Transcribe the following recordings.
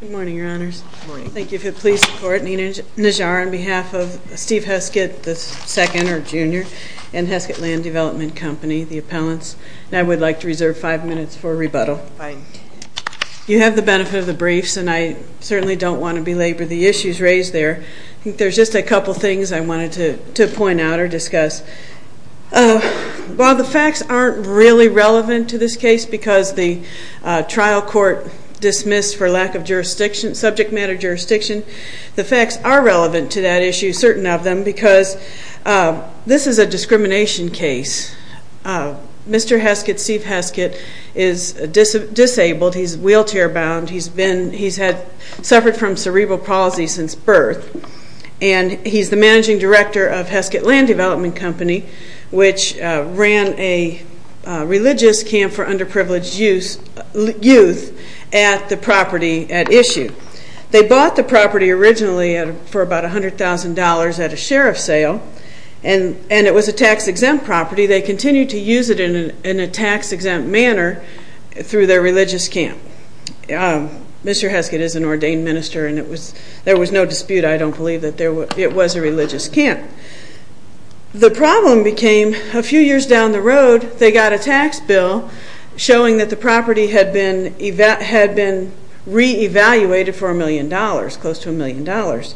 Good morning, Your Honors. Thank you for your police support. Nina Najjar on behalf of Steve Heskett, the second or junior in Heskett Land Development Company, the appellants, and I would like to reserve five minutes for rebuttal. You have the benefit of the briefs and I certainly don't want to belabor the issues raised there. I think there's just a couple things I wanted to point out or discuss. While the facts aren't really relevant to this case because the trial court dismissed for lack of subject matter jurisdiction, the facts are relevant to that issue, certain of them, because this is a discrimination case. Mr. Heskett, Steve Heskett, is disabled. He's wheelchair bound. He's suffered from cerebral palsy since birth. He's the managing director of Heskett Land Development Company, which ran a religious camp for underprivileged youth at the property at issue. They bought the property originally for about $100,000 at a sheriff's sale and it was a tax-exempt property. They continued to use it in a tax-exempt manner through their religious camp. Mr. Heskett is an ordained minister and there was no dispute, I don't believe, that it was a religious camp. The problem became a few years down the road, they got a tax bill showing that the property had been re-evaluated for a million dollars, close to a million dollars.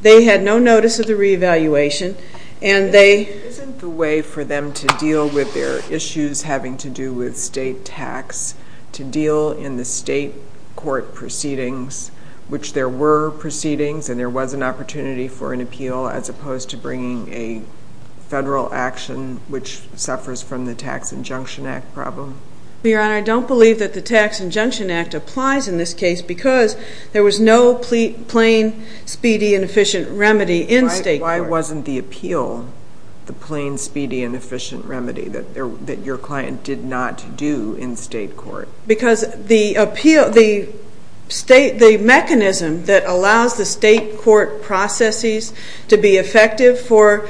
They had no notice of the re-evaluation. Isn't the way for them to deal with their issues having to do with state tax to deal in the state court proceedings, which there were proceedings and there was an opportunity for an appeal as opposed to bringing a federal action, which suffers from the Tax Injunction Act problem? Your Honor, I don't believe that the Tax Injunction Act applies in this case because there was no plain, speedy and efficient remedy in state court. Why wasn't the appeal the plain, speedy and efficient remedy that your client did not do in state court? Because the mechanism that allows the state court processes to be effective for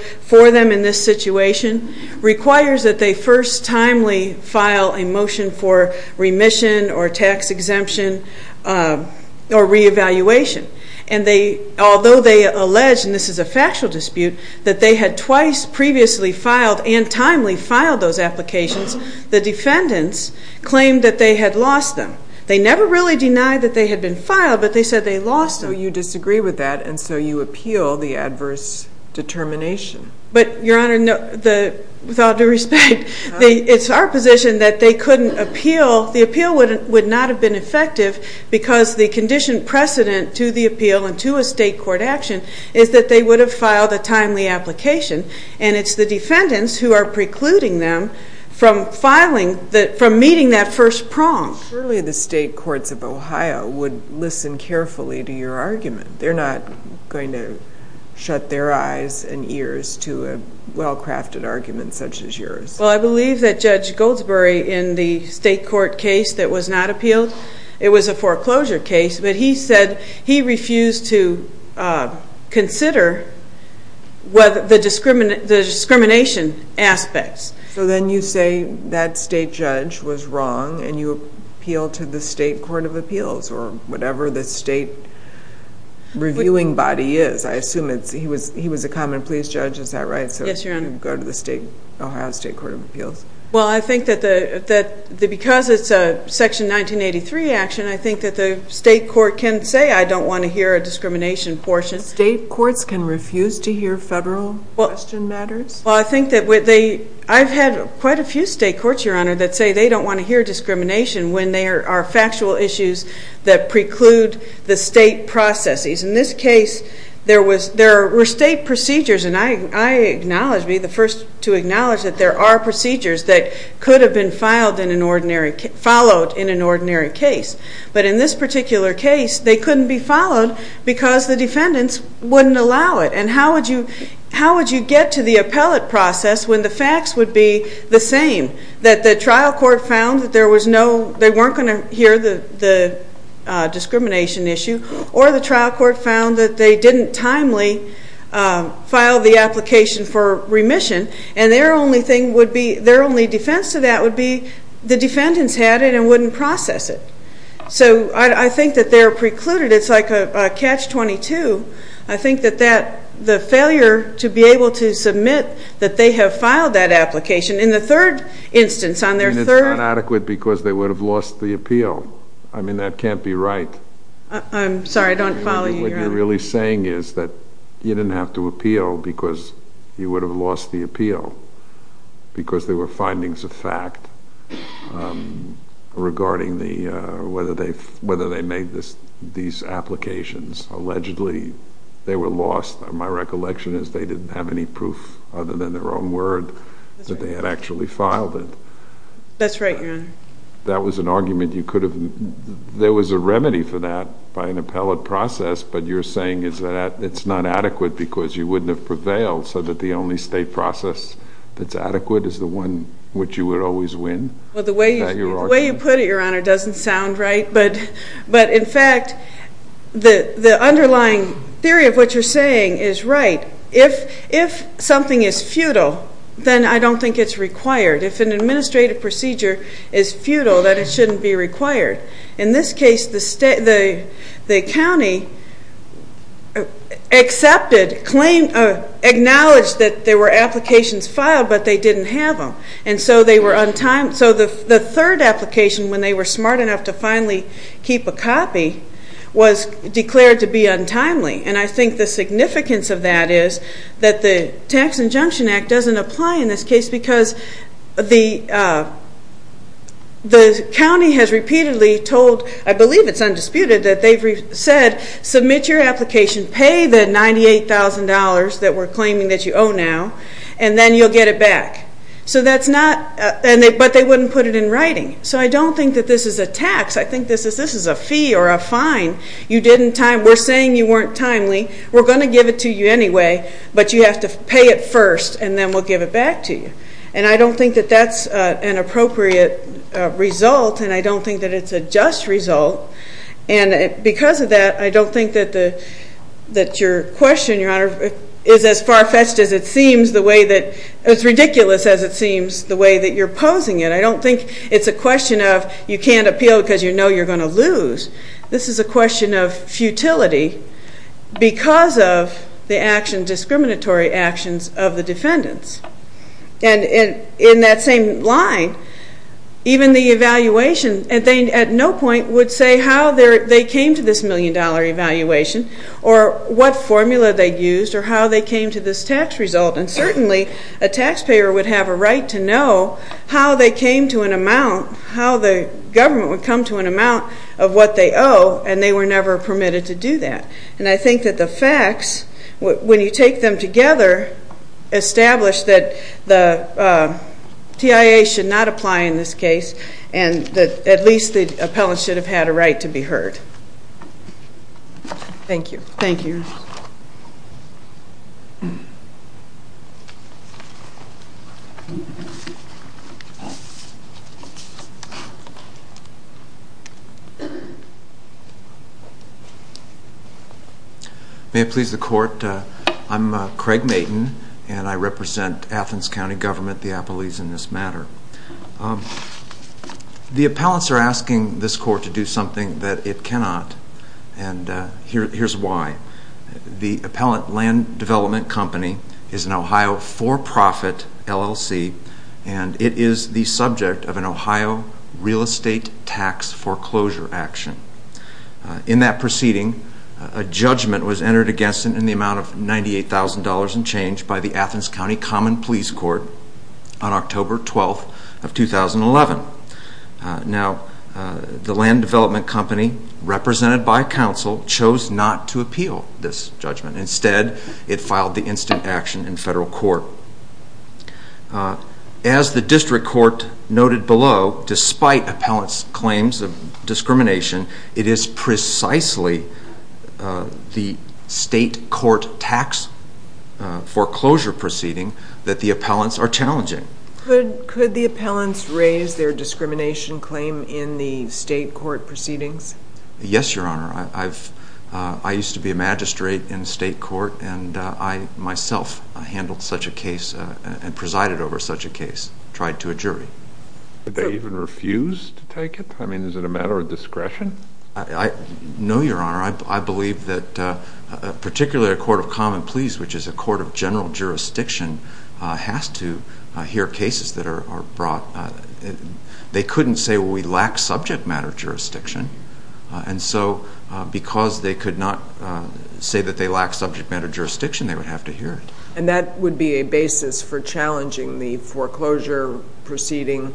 them in this situation requires that they first timely file a motion for remission or tax exemption or re-evaluation. And although they allege, and this is a factual dispute, that they had twice previously filed and timely filed those applications, the defendants claimed that they had lost them. They never really denied that they had been filed, but they said they lost them. So you disagree with that and so you appeal the adverse determination. But, Your Honor, with all due respect, it's our position that they couldn't appeal. Well, the appeal would not have been effective because the conditioned precedent to the appeal and to a state court action is that they would have filed a timely application. And it's the defendants who are precluding them from meeting that first prong. Surely the state courts of Ohio would listen carefully to your argument. They're not going to shut their eyes and ears to a well-crafted argument such as yours. Well, I believe that Judge Goldsberry in the state court case that was not appealed, it was a foreclosure case, but he said he refused to consider the discrimination aspects. So then you say that state judge was wrong and you appeal to the state court of appeals or whatever the state reviewing body is. I assume he was a common police judge. Is that right? Yes, Your Honor. So you go to the Ohio State Court of Appeals. Well, I think that because it's a Section 1983 action, I think that the state court can say, I don't want to hear a discrimination portion. State courts can refuse to hear federal question matters? Well, I think that I've had quite a few state courts, Your Honor, that say they don't want to hear discrimination when there are factual issues that preclude the state processes. In this case, there were state procedures, and I acknowledge to be the first to acknowledge that there are procedures that could have been followed in an ordinary case. But in this particular case, they couldn't be followed because the defendants wouldn't allow it. And how would you get to the appellate process when the facts would be the same, that the trial court found that they weren't going to hear the discrimination issue or the trial court found that they didn't timely file the application for remission and their only defense to that would be the defendants had it and wouldn't process it. So I think that they're precluded. It's like a catch-22. I think that the failure to be able to submit that they have filed that application. In the third instance, on their third attempt. And it's not adequate because they would have lost the appeal. I mean, that can't be right. I'm sorry, I don't follow you, Your Honor. What you're really saying is that you didn't have to appeal because you would have lost the appeal because there were findings of fact regarding whether they made these applications. Allegedly, they were lost. My recollection is they didn't have any proof other than their own word that they had actually filed it. That's right, Your Honor. That was an argument you could have. There was a remedy for that by an appellate process, but you're saying it's not adequate because you wouldn't have prevailed so that the only state process that's adequate is the one which you would always win? Well, the way you put it, Your Honor, doesn't sound right. But, in fact, the underlying theory of what you're saying is right. If something is futile, then I don't think it's required. If an administrative procedure is futile, then it shouldn't be required. In this case, the county accepted, acknowledged that there were applications filed, but they didn't have them. And so the third application, when they were smart enough to finally keep a copy, was declared to be untimely. And I think the significance of that is that the Tax Injunction Act doesn't apply in this case because the county has repeatedly told, I believe it's undisputed, that they've said submit your application, pay the $98,000 that we're claiming that you owe now, and then you'll get it back. But they wouldn't put it in writing. So I don't think that this is a tax. I think this is a fee or a fine. We're saying you weren't timely. We're going to give it to you anyway, but you have to pay it first and then we'll give it back to you. And I don't think that that's an appropriate result, and I don't think that it's a just result. And because of that, I don't think that your question, Your Honor, is as far-fetched as it seems the way that you're posing it. I don't think it's a question of you can't appeal because you know you're going to lose. This is a question of futility because of the discriminatory actions of the defendants. And in that same line, even the evaluation, they at no point would say how they came to this million-dollar evaluation or what formula they used or how they came to this tax result. And certainly a taxpayer would have a right to know how they came to an amount, how the government would come to an amount of what they owe, and they were never permitted to do that. And I think that the facts, when you take them together, establish that the TIA should not apply in this case and that at least the appellant should have had a right to be heard. Thank you. Thank you, Your Honor. May it please the Court? I'm Craig Mayton, and I represent Athens County Government, the appellees in this matter. The appellants are asking this Court to do something that it cannot, and here's why. The Appellant Land Development Company is an Ohio for-profit LLC, and it is the subject of an Ohio real estate tax foreclosure action. In that proceeding, a judgment was entered against it in the amount of $98,000 and change by the Athens County Common Pleas Court on October 12th of 2011. Now, the Land Development Company, represented by counsel, chose not to appeal this judgment. Instead, it filed the instant action in federal court. As the District Court noted below, despite appellants' claims of discrimination, it is precisely the state court tax foreclosure proceeding that the appellants are challenging. Could the appellants raise their discrimination claim in the state court proceedings? Yes, Your Honor. I used to be a magistrate in state court, and I myself handled such a case and presided over such a case, tried to a jury. Did they even refuse to take it? I mean, is it a matter of discretion? No, Your Honor. I believe that particularly a court of common pleas, which is a court of general jurisdiction, has to hear cases that are brought. They couldn't say, well, we lack subject matter jurisdiction. And so because they could not say that they lack subject matter jurisdiction, they would have to hear it. And that would be a basis for challenging the foreclosure proceeding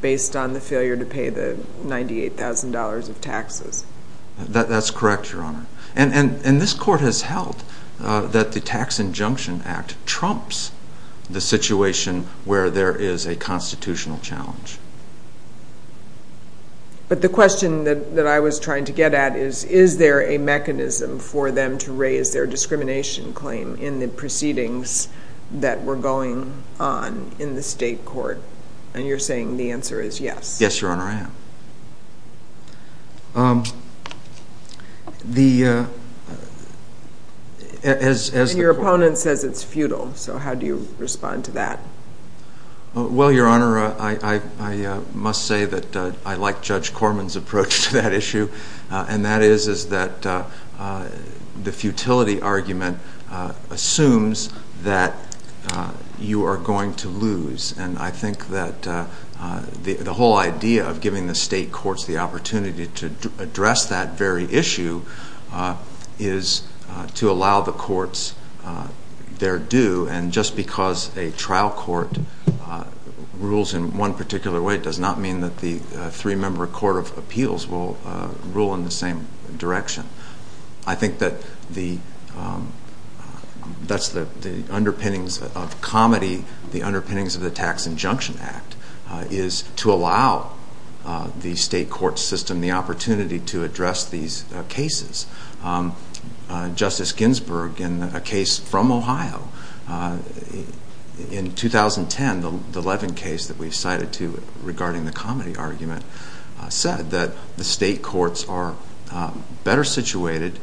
based on the failure to pay the $98,000 of taxes? That's correct, Your Honor. And this court has held that the Tax Injunction Act trumps the situation where there is a constitutional challenge. But the question that I was trying to get at is, is there a mechanism for them to raise their discrimination claim in the proceedings that were going on in the state court? And you're saying the answer is yes? Yes, Your Honor, I am. Your opponent says it's futile, so how do you respond to that? Well, Your Honor, I must say that I like Judge Corman's approach to that issue, and that is that the futility argument assumes that you are going to lose. And I think that the whole idea of giving the state courts the opportunity to address that very issue is to allow the courts their due. And just because a trial court rules in one particular way does not mean that the three-member court of appeals will rule in the same direction. I think that that's the underpinnings of comedy, the underpinnings of the Tax Injunction Act, is to allow the state court system the opportunity to address these cases. Justice Ginsburg, in a case from Ohio in 2010, the Levin case that we cited regarding the comedy argument, said that the state courts are better situated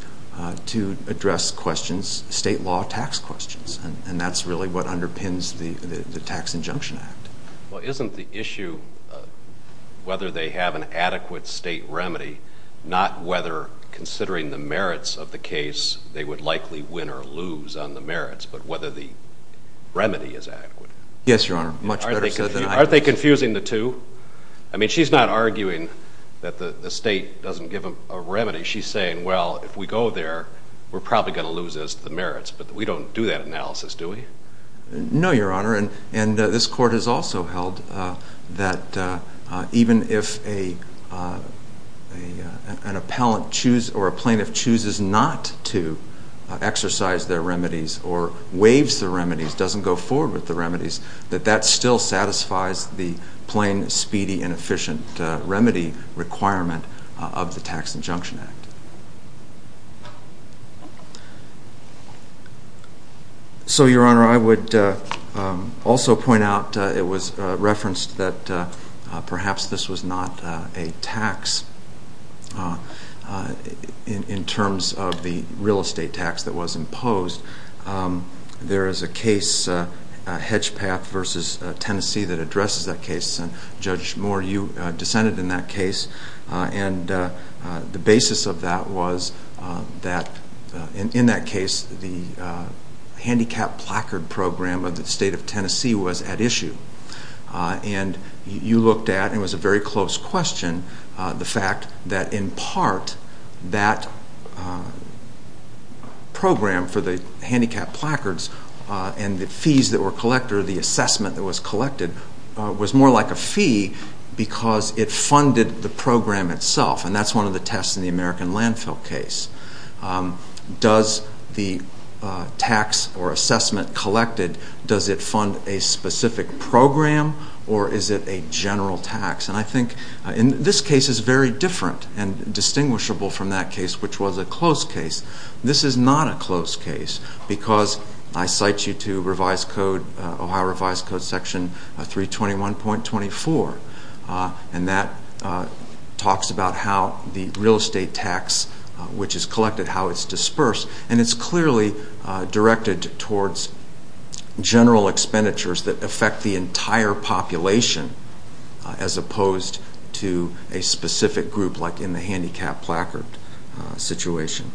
to address questions, state law tax questions, and that's really what underpins the Tax Injunction Act. Well, isn't the issue whether they have an adequate state remedy not whether, considering the merits of the case, they would likely win or lose on the merits, but whether the remedy is adequate? Yes, Your Honor, much better. Aren't they confusing the two? I mean, she's not arguing that the state doesn't give them a remedy. She's saying, well, if we go there, we're probably going to lose as to the merits, but we don't do that analysis, do we? No, Your Honor, and this court has also held that even if an appellant chooses or a plaintiff chooses not to exercise their remedies or waives the remedies, doesn't go forward with the remedies, that that still satisfies the plain, speedy, and efficient remedy requirement of the Tax Injunction Act. So, Your Honor, I would also point out it was referenced that perhaps this was not a tax in terms of the real estate tax that was imposed. There is a case, Hedgepath v. Tennessee, that addresses that case, and Judge Moore, you dissented in that case, and the basis of that was that in that case, the handicapped placard program of the state of Tennessee was at issue. And you looked at, and it was a very close question, the fact that in part that program for the handicapped placards and the fees that were collected or the assessment that was collected was more like a fee because it funded the program itself, and that's one of the tests in the American Landfill case. Does the tax or assessment collected, does it fund a specific program or is it a general tax? And I think this case is very different and distinguishable from that case, which was a close case. This is not a close case because I cite you to Ohio Revised Code Section 321.24, and that talks about how the real estate tax, which is collected, how it's dispersed, and it's clearly directed towards general expenditures that affect the entire population as opposed to a specific group like in the handicapped placard situation.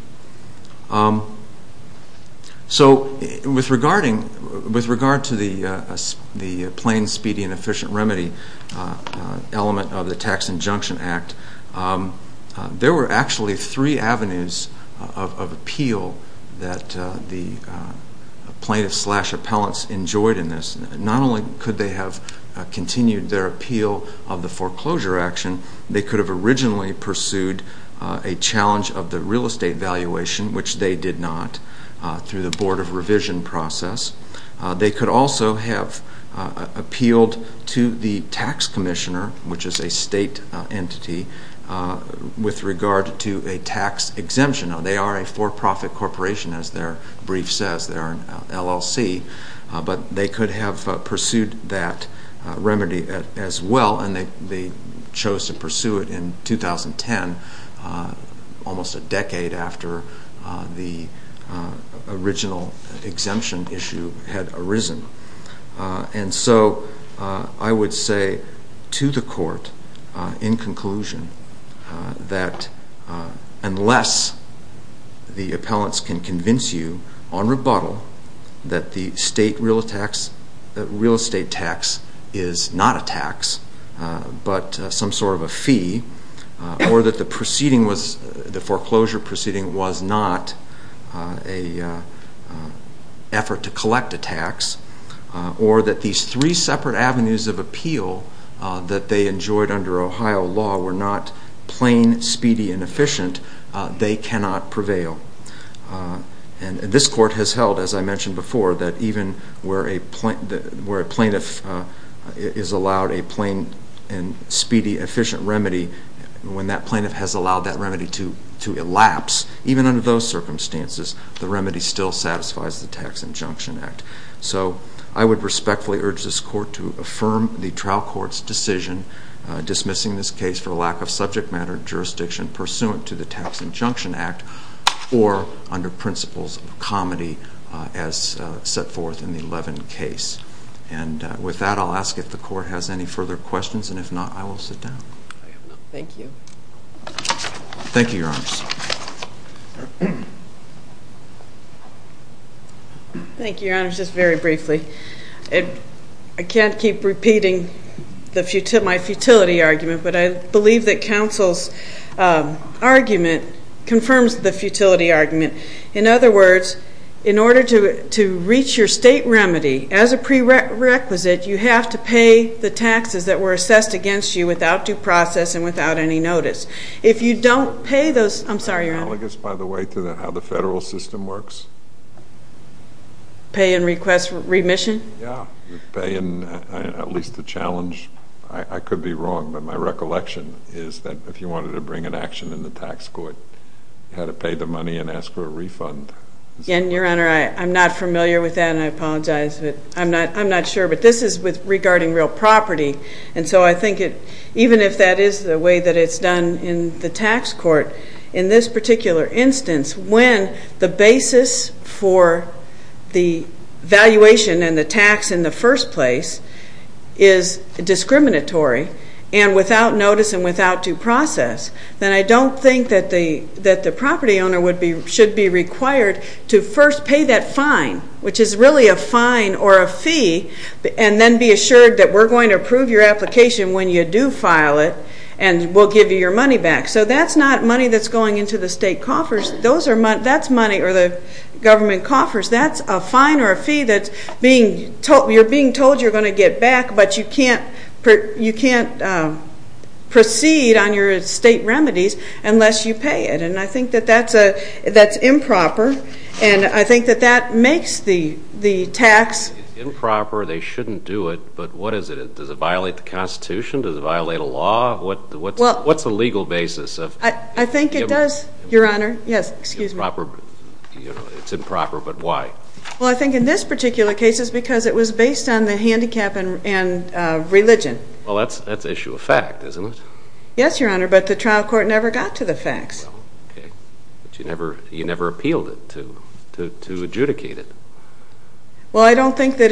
So with regard to the plain, speedy, and efficient remedy element of the Tax Injunction Act, there were actually three avenues of appeal that the plaintiffs slash appellants enjoyed in this. Not only could they have continued their appeal of the foreclosure action, they could have originally pursued a challenge of the real estate valuation, which they did not through the Board of Revision process. They could also have appealed to the tax commissioner, which is a state entity, with regard to a tax exemption. Now, they are a for-profit corporation, as their brief says. They're an LLC. But they could have pursued that remedy as well, and they chose to pursue it in 2010, almost a decade after the original exemption issue had arisen. And so I would say to the court, in conclusion, that unless the appellants can convince you on rebuttal that the real estate tax is not a tax, but some sort of a fee, or that the foreclosure proceeding was not an effort to collect a tax, or that these three separate avenues of appeal that they enjoyed under Ohio law were not plain, speedy, and efficient, they cannot prevail. And this court has held, as I mentioned before, that even where a plaintiff is allowed a plain and speedy, efficient remedy, when that plaintiff has allowed that remedy to elapse, even under those circumstances, the remedy still satisfies the Tax Injunction Act. So I would respectfully urge this court to affirm the trial court's decision dismissing this case for lack of subject matter jurisdiction pursuant to the Tax Injunction Act or under principles of comity as set forth in the Levin case. And with that, I'll ask if the court has any further questions, and if not, I will sit down. Thank you. Thank you, Your Honors. Thank you, Your Honors. Just very briefly, I can't keep repeating my futility argument, but I believe that counsel's argument confirms the futility argument. In other words, in order to reach your state remedy, as a prerequisite, you have to pay the taxes that were assessed against you without due process and without any notice. If you don't pay those ñ I'm sorry, Your Honor. I'm analogous, by the way, to how the federal system works. Pay and request remission? Yeah, pay and at least the challenge. I could be wrong, but my recollection is that if you wanted to bring an action in the tax court, you had to pay the money and ask for a refund. And, Your Honor, I'm not familiar with that, and I apologize. I'm not sure, but this is regarding real property, and so I think even if that is the way that it's done in the tax court, in this particular instance, when the basis for the valuation and the tax in the first place is discriminatory and without notice and without due process, then I don't think that the property owner should be required to first pay that fine, which is really a fine or a fee, and then be assured that we're going to approve your application when you do file it and we'll give you your money back. So that's not money that's going into the state coffers. That's money, or the government coffers. That's a fine or a fee that you're being told you're going to get back, but you can't proceed on your estate remedies unless you pay it, and I think that that's improper, and I think that that makes the tax. It's improper. They shouldn't do it, but what is it? Does it violate the Constitution? Does it violate a law? What's the legal basis? I think it does, Your Honor. Yes, excuse me. It's improper, but why? Well, I think in this particular case it's because it was based on the handicap and religion. Well, that's issue of fact, isn't it? Yes, Your Honor, but the trial court never got to the facts. Okay, but you never appealed it to adjudicate it. Well, I don't think that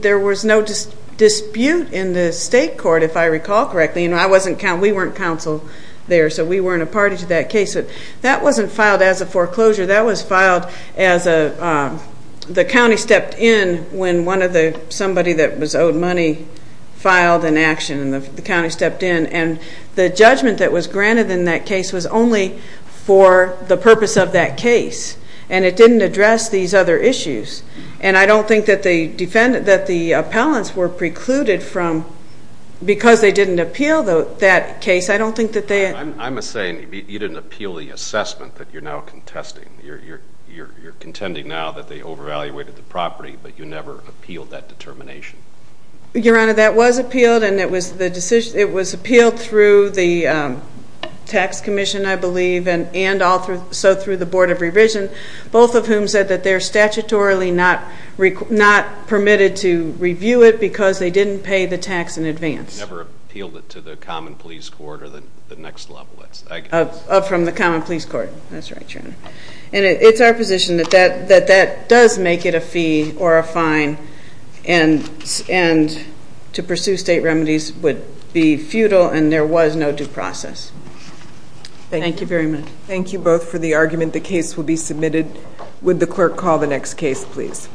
there was no dispute in the state court, if I recall correctly. We weren't counsel there, so we weren't a party to that case. That wasn't filed as a foreclosure. That was filed as the county stepped in when somebody that was owed money filed an action, and the county stepped in, and the judgment that was granted in that case was only for the purpose of that case, and it didn't address these other issues, and I don't think that the appellants were precluded from because they didn't appeal that case. I don't think that they had. I'm saying you didn't appeal the assessment that you're now contesting. You're contending now that they overvaluated the property, but you never appealed that determination. Your Honor, that was appealed, and it was appealed through the tax commission, I believe, and also through the Board of Revision, both of whom said that they're statutorily not permitted to review it because they didn't pay the tax in advance. They never appealed it to the common police court or the next level. From the common police court. That's right, Your Honor. And it's our position that that does make it a fee or a fine, and to pursue state remedies would be futile, and there was no due process. Thank you very much. Thank you both for the argument. The case will be submitted. Would the clerk call the next case, please?